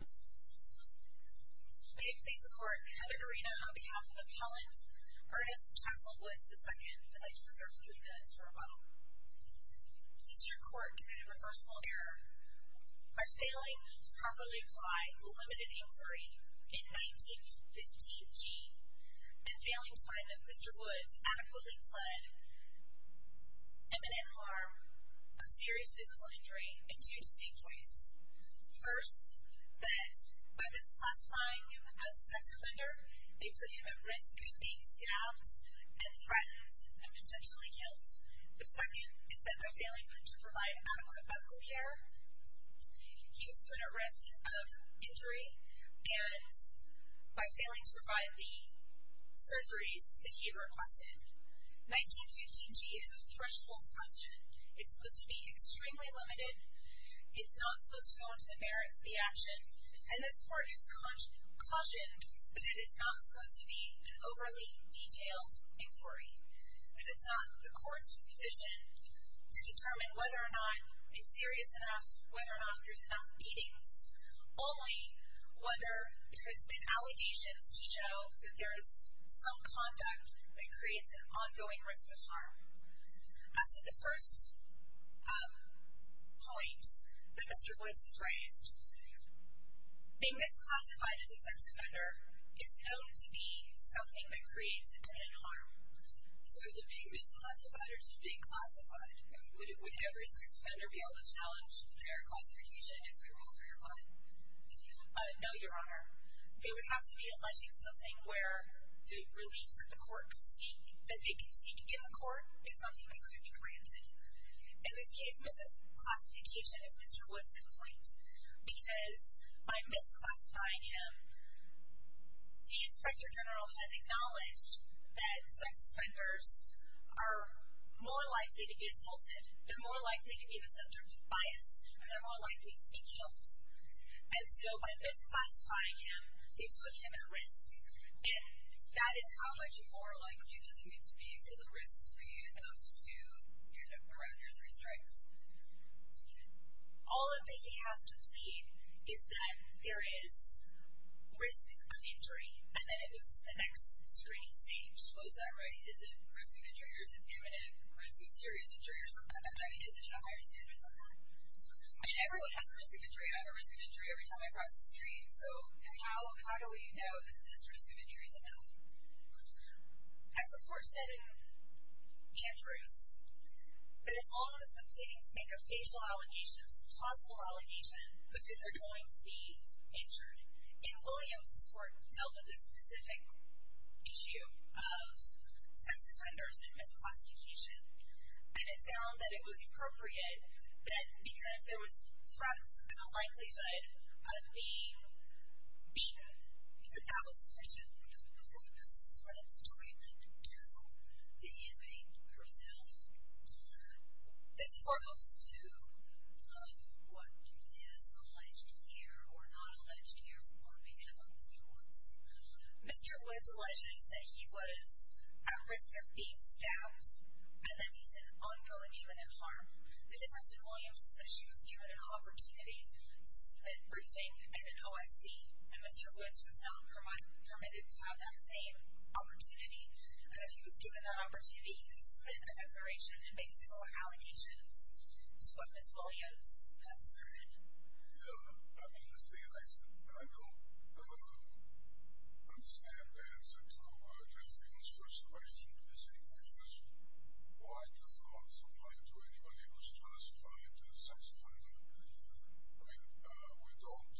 May it please the Court, Heather Guerino on behalf of Appellant Ernest Castle Woods, II. I'd like to reserve three minutes for rebuttal. District Court committed reversible error by failing to properly apply the limited inquiry in 1915g and failing to find that Mr. Woods adequately pled imminent harm of serious physical injury in two distinct ways. First, that by misclassifying him as a sex offender, they put him at risk of being stabbed and threatened and potentially killed. The second is that by failing to provide adequate medical care, he was put at risk of injury and by failing to provide the surgeries that he requested. 1915g is a threshold question. It's supposed to be extremely limited. It's not supposed to go into the merits of the action. And this Court has cautioned that it's not supposed to be an overly detailed inquiry. That it's not the Court's position to determine whether or not it's serious enough, whether or not there's enough beatings. It's only whether there has been allegations to show that there is some conduct that creates an ongoing risk of harm. As to the first point that Mr. Woods has raised, being misclassified as a sex offender is known to be something that creates imminent harm. So is it being misclassified or just being classified? Would every sex offender be able to challenge their classification if they ruled for your client? No, Your Honor. They would have to be alleging something where the relief that they can seek in the Court is something that could be granted. In this case, misclassification is Mr. Woods' complaint because by misclassifying him, the Inspector General has acknowledged that sex offenders are more likely to be assaulted, they're more likely to be in the subject of bias, and they're more likely to be killed. And so by misclassifying him, they've put him at risk. And that is how much more likely does it need to be for the risk to be enough to get around your three strikes? All that he has to plead is that there is risk of injury, and then it moves to the next screening stage. Well, is that right? Is it risk of injury or is it imminent risk of serious injury or something like that? Is it at a higher standard than that? I mean, everyone has a risk of injury. I have a risk of injury every time I cross the street. So how do we know that this risk of injury is enough? As the Court said in Andrews, that as long as the pleadings make a facial allegation, a plausible allegation, that they're going to be injured. And Williams' court dealt with this specific issue of sex offenders and misclassification, and it found that it was appropriate that because there was threats and a likelihood of being beaten, that that was sufficient. We don't know what those threats do to the inmate herself. This is for those who love what is alleged here or not alleged here from what we have on these courts. Mr. Woods alleges that he was at risk of being stabbed and that he's an ongoing imminent harm. The difference in Williams is that she was given an opportunity to submit a briefing at an OIC, and Mr. Woods was not permitted to have that same opportunity, and if he was given that opportunity, he could submit a declaration and make similar allegations to what Ms. Williams has asserted. Yeah, I mean, I don't understand the answer to Ms. Williams' first question, which was, why does law supply to anybody who's classified as a sex offender? I mean, we don't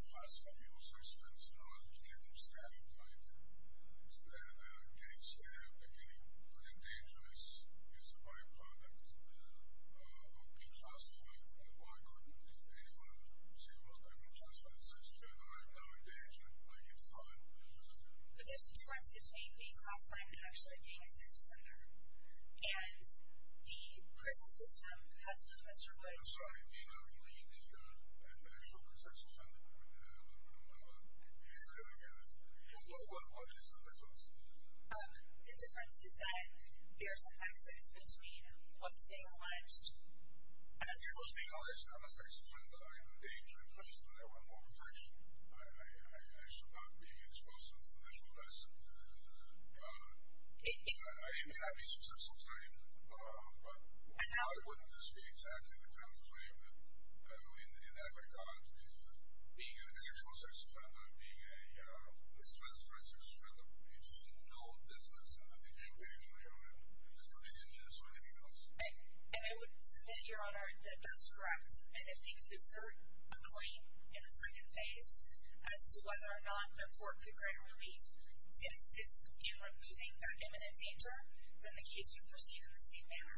classify people as sex offenders. You can't just say, like, they're getting stabbed, they're getting put in danger as a by-product of being classified. Why couldn't anyone say, well, I've been classified as a sex offender. I'm now in danger. I get fired. But there's a difference between being classified and actually being a sex offender, and the prison system has known Mr. Woods for— I'm sorry. Do you know if he's been classified as a sex offender? No, I don't. What is the difference? The difference is that there's an access between what's being alleged and what's being alleged. I'm a sex offender. I'm in danger. I should not be exposed to this. I didn't have any successful training, but why wouldn't this be exactly the kind of claim that, I mean, in that regard, being an exposed sex offender, being a— let's say, for instance, you feel that you just know business and that they can't pay for your injuries or anything else. And I would submit, Your Honor, that that's correct. And if they could assert a claim in the second phase as to whether or not the court could grant relief to assist in removing that imminent danger, then the case would proceed in the same manner.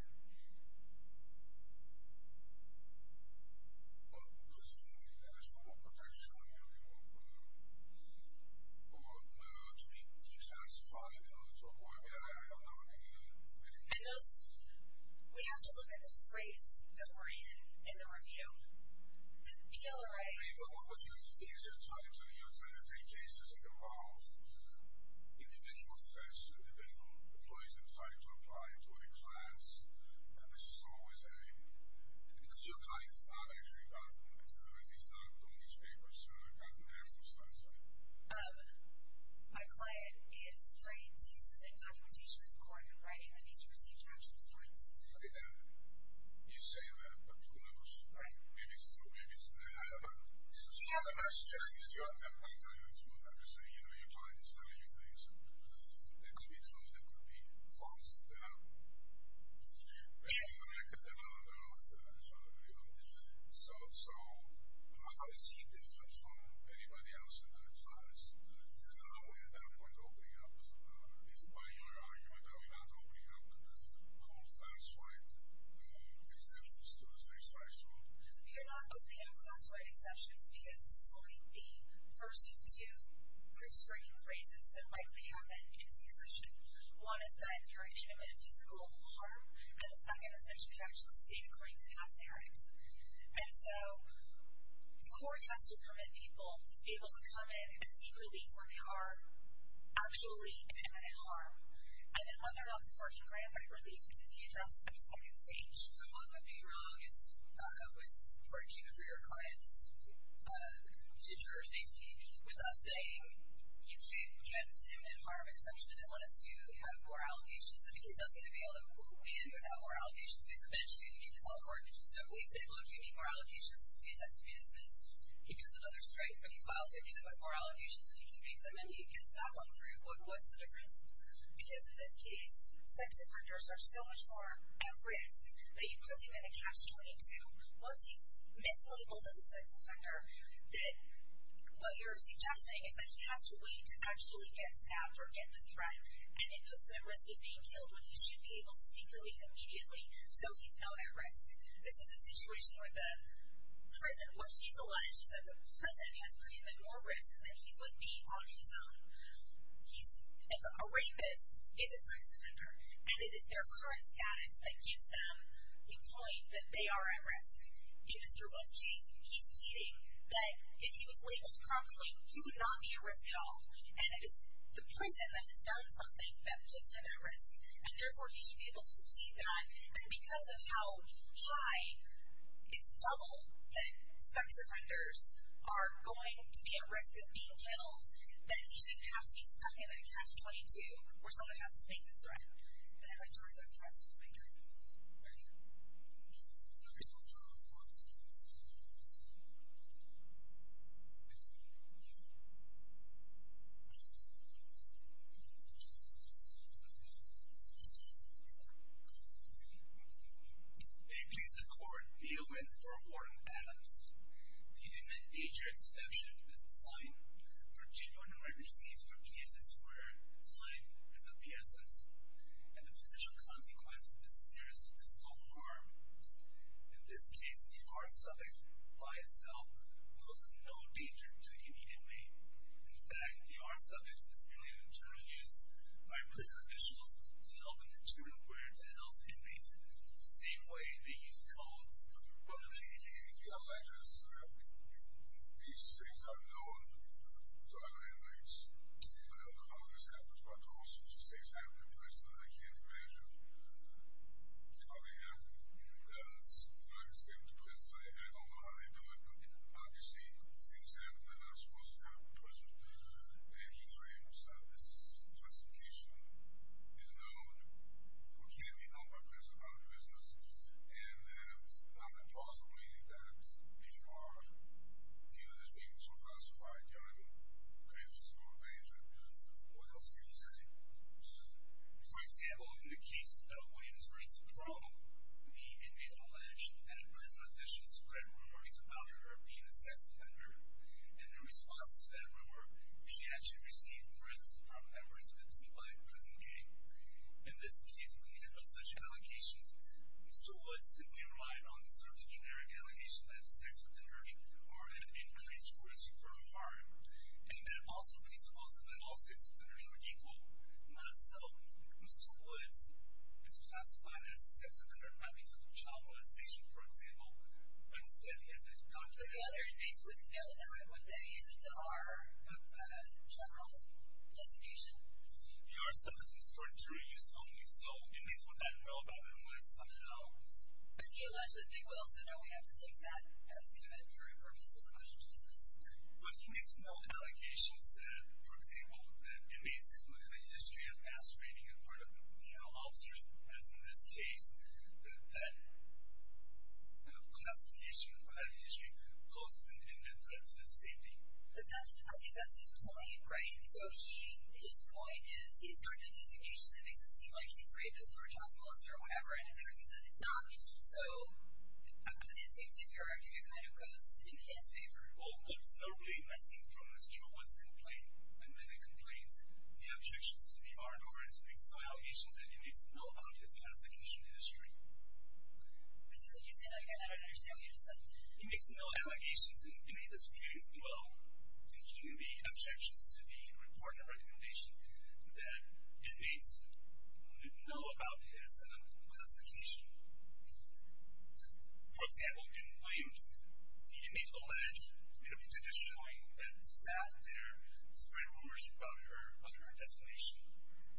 But the state has full protection of every woman, who are alleged to be classified as a sex offender. And those—we have to look at the phrase that we're in, in the review. PLRA— Individual sex—individual employees that try to apply to a class, which is always a—because your client is not actually documented, or at least not on these papers, gotten their full status out. You say that, but who knows? Right. Maybe it's true. Maybe it's— She has a question. Since you're at that point, I understand. You know, your client is telling you things that could be true, that could be false. So, how is he different from anybody else in that class? And how are you, at that point, opening up? Is it by your argument that we're not opening up the whole class-wide exceptions to the state's rights rule? You're not opening up class-wide exceptions, because this is only the first of two pre-screening phrases that likely happen in C-section. One is that you're in imminent physical harm, and the second is that you can actually see the client's past merit. And so, the court has to permit people to be able to come in and seek relief when they are actually in imminent harm. And then whether or not the court can grant that relief can be addressed at the second stage. So, what would be wrong for you and for your client's future safety with us saying you can't do an imminent harm exception unless you have more allegations? I mean, he's not going to be able to win without more allegations. He's eventually going to get to tell the court, so if we say, look, you need more allegations, this case has to be dismissed. He gets another strike, but he files it again with more allegations, and he convicts him, and he gets that one through. What's the difference? Because in this case, sex offenders are so much more at risk. But you're probably going to catch 22 once he's mislabeled as a sex offender that what you're suggesting is that he has to wait to actually get stabbed or get the threat, and it puts him at risk of being killed when he should be able to seek relief immediately. So, he's not at risk. This is a situation where the prison, what he's alleged, is that the prison has put him at more risk than he would be on his own. If a rapist is a sex offender, and it is their current status that gives them the point that they are at risk, in Mr. Wood's case, he's pleading that if he was labeled properly, he would not be at risk at all. And it is the prison that has done something that puts him at risk, and therefore he should be able to plead that. And because of how high it's double that sex offenders are going to be at risk of being killed, that he shouldn't have to be stuck in a catch-22 where someone has to make the threat, and have to reserve the rest of his lifetime. Thank you. May it please the Court, The Owen for Warden Adams. Do you think that danger and deception is a crime? Virginia, when I received your case, is where crime is of the essence. And the potential consequence is serious physical harm. In this case, the R-subjects by itself poses no danger to any inmate. In fact, the R-subjects is merely an internal use by prison officials to help an internal ward to help inmates the same way they use codes. Well, he alleges that these things are known to other inmates. I don't know how this happens, but I'm also just saying it's happening to a person that I can't imagine. It probably happened because the R-subjects came to prison, so I don't know how they do it. But obviously, things happen that are not supposed to happen in prison. And he claims that this classification is known, or can be known by prison, by the prisoners. And it's not impossible, really, that people are viewed as being so classified, young, and the case is more dangerous. What else can you say? For example, in the case of Williams v. Crowell, the inmate alleged that a prison official spread rumors about her being a sex offender. And in response to that rumor, she actually received threats from members of the Tupac prison gang. In this case, we have no such allegations. Mr. Woods simply relied on this sort of generic allegation that sex offenders are at increased risk for harm. And that also presupposes that all sex offenders are equal. Not so. Mr. Woods is classified as a sex offender not because of child molestation, for example, but instead he has a doctorate. But the other inmates wouldn't know that, would they? Isn't the R a general designation? The R-subject is for interior use only. So inmates wouldn't know about it unless someone else. But he alleged that they will, so now we have to take that as given for purposes of the question to discuss. But he makes no allegations that, for example, that inmates who have a history of masquerading in front of penal officers, as in this case, that that classification or that history poses an imminent threat to his safety. I think that's his point, right? So his point is he started a designation that makes it seem like he's rapist or child molester or whatever, and in fact he says it's not. So it seems to me that your argument kind of goes in his favor. Well, what's not really missing from Mr. Woods' complaint, and many complaints, the objections to the R-over is he makes no allegations and he makes no allegations of classification history. Could you say that again? I don't understand what you just said. He makes no allegations, and he made this clear as well, including the objections to the report and recommendation that inmates know about his classification. For example, in Williams, the inmates allege him to be showing that staff there spread rumors about her under her designation.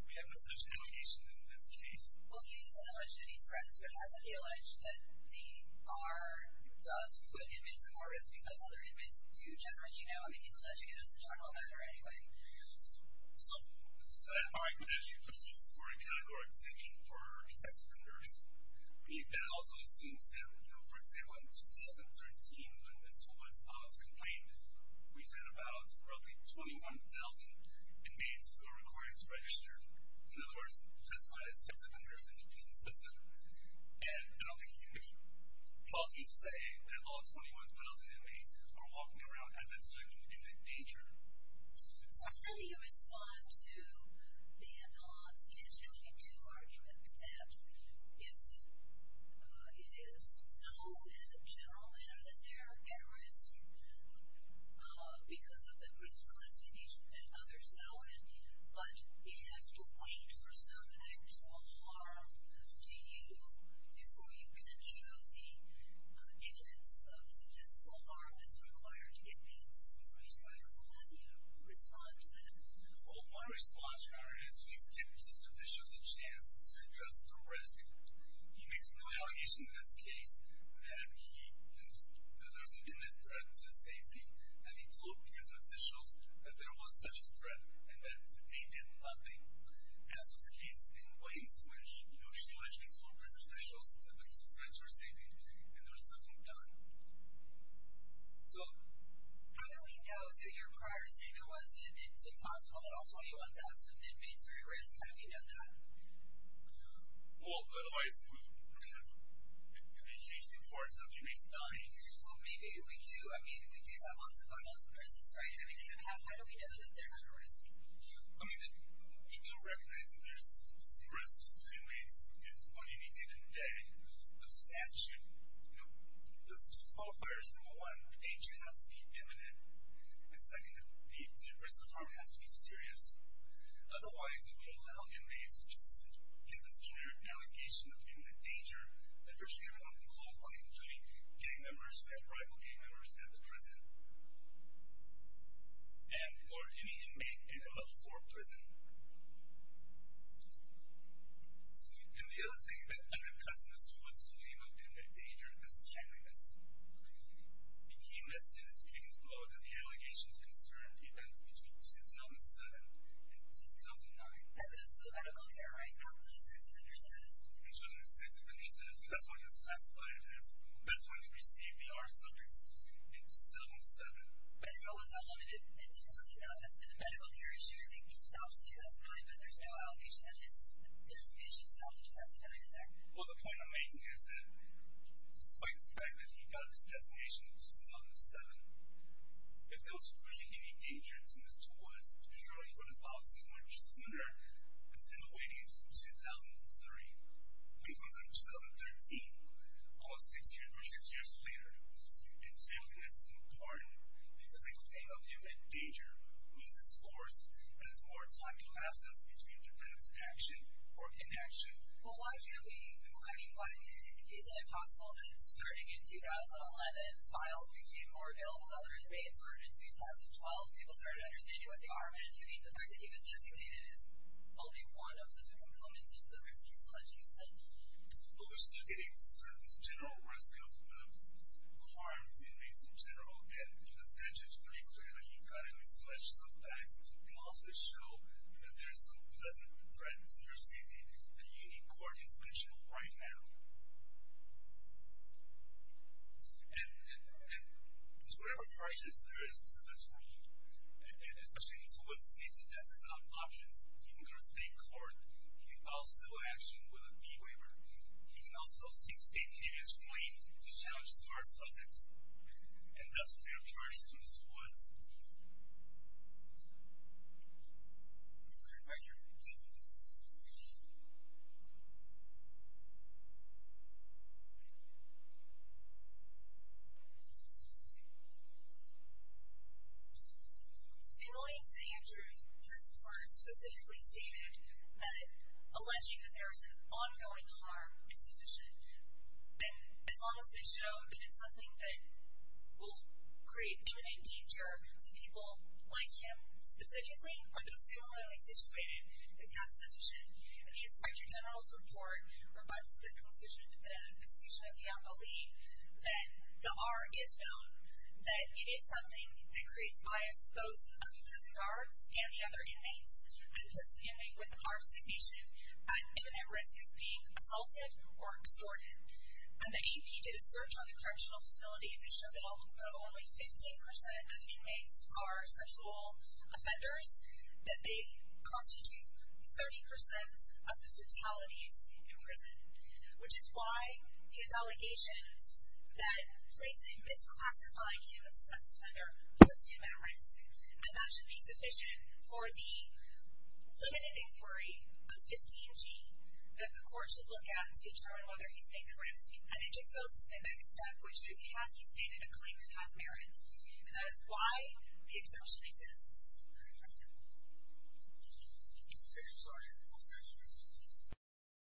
We have no such allegations in this case. Well, he hasn't alleged any threats, but hasn't he alleged that the R does put inmates at more risk because other inmates do generally know? I mean, he's alleging it as a general matter anyway. So as you just used for a category exemption for sex offenders, he also assumes that, you know, for example, in 2013 when Mr. Woods filed his complaint, we had about roughly 21,000 inmates who are required to register, in other words, testified as sex offenders in the prison system. And I don't think he can plausibly say that all 21,000 inmates are walking around at that time in the danger. So how do you respond to the odds? And it's really two arguments that if it is known as a general matter that they're at risk because of the prison classification that others know in, but you have to wait for some actual harm to you before you can show the evidence of the physical harm that's required to get past this risk. How do you respond to that? Well, my response, rather, is we give these officials a chance to address the risk. He makes no allegations in this case that there's an imminent threat to safety, that he told prison officials that there was such a threat and that they did nothing. As was the case in Williams, which, you know, she allegedly told prison officials that there was a threat to her safety and there's nothing done. So how do we know? So your prior statement was that it's impossible that all 21,000 inmates are at risk. How do we know that? Well, otherwise we would have an increasing force of inmates dying. Well, maybe we do. I mean, we do have lots of violence in prisons, right? I mean, how do we know that they're not at risk? I mean, we do recognize that there's risks to inmates on any given day. The statute, you know, the qualifiers, number one, the danger has to be imminent. And second, the risk of harm has to be serious. Otherwise, it would allow inmates to just give this generic allegation of imminent danger, that virtually everyone can call upon, including gang members and rival gang members at the prison. And, or any inmate in a level four prison. And the other thing that kind of cuts in this too, is to leave out the imminent danger as timeliness. The key message is, you can quote, as the allegations concern events between 2007 and 2009. That goes to the medical care, right? After the sex offender status. In 2006, the nuisance, that's when he was classified as, that's when he received VR subjects, in 2007. And so, was that limited in 2009? And the medical care issue, I think, stops in 2009, but there's no allegation that his designation stopped in 2009, is there? Well, the point I'm making is that, despite the fact that he got his designation in 2007, if there was really any danger to Mr. Woods, he probably would have filed suit much sooner, instead of waiting until 2003. But he filed suit in 2013, almost six years later. And timeliness is important, because a claim of imminent danger, means it's forced, and there's more time elapses between dependent action, or inaction. Well, why can't we, I mean, why, isn't it possible that, starting in 2011, files became more available to other inmates, or in 2012, people started understanding what they are meant to be? The fact that he was designated, is only one of the components of the risk he's alleged to have met. But we're still getting, sort of, this general risk of harm to inmates, in general. And, if the statute's pretty clear, that you've got to at least flesh some facts, to possibly show, that there's some present threat to your safety, that you need court intervention, right now. And, and, and, just whatever questions there is, to this rule, and, and, especially as to what state suggests as options, he can go to state court, he can file civil action, with a D-waiver, he can also seek state convenience relief, to challenge these hard subjects. And that's what we have charged Mr. Woods. Okay, thank you. Thank you. In Williams and Andrew, this court specifically stated, that, alleging that there is an ongoing harm, is sufficient. And, as long as they show that it's something that, will create imminent danger, to people, like him, specifically, are they similarly situated, if that's sufficient, and the Inspector General's report, rebuts the conclusion, the conclusion of the appellee, that the R is known, that it is something, that creates bias, both of the prison guards, and the other inmates, and puts the inmate with the R designation, at imminent risk of being assaulted, or extorted. When the AP did a search on the correctional facility, they showed that although only 15% of inmates, are sexual offenders, that they constitute, 30% of the fatalities, in prison. Which is why, his allegations, that placing, misclassifying him as a sex offender, puts him at risk. And that should be sufficient, for the, limited inquiry, of 15G, that the court should look at, to determine whether he's made the risk. And it just goes to the next step, which is, has he stated a claim to half merit? And that is why, the exception exists.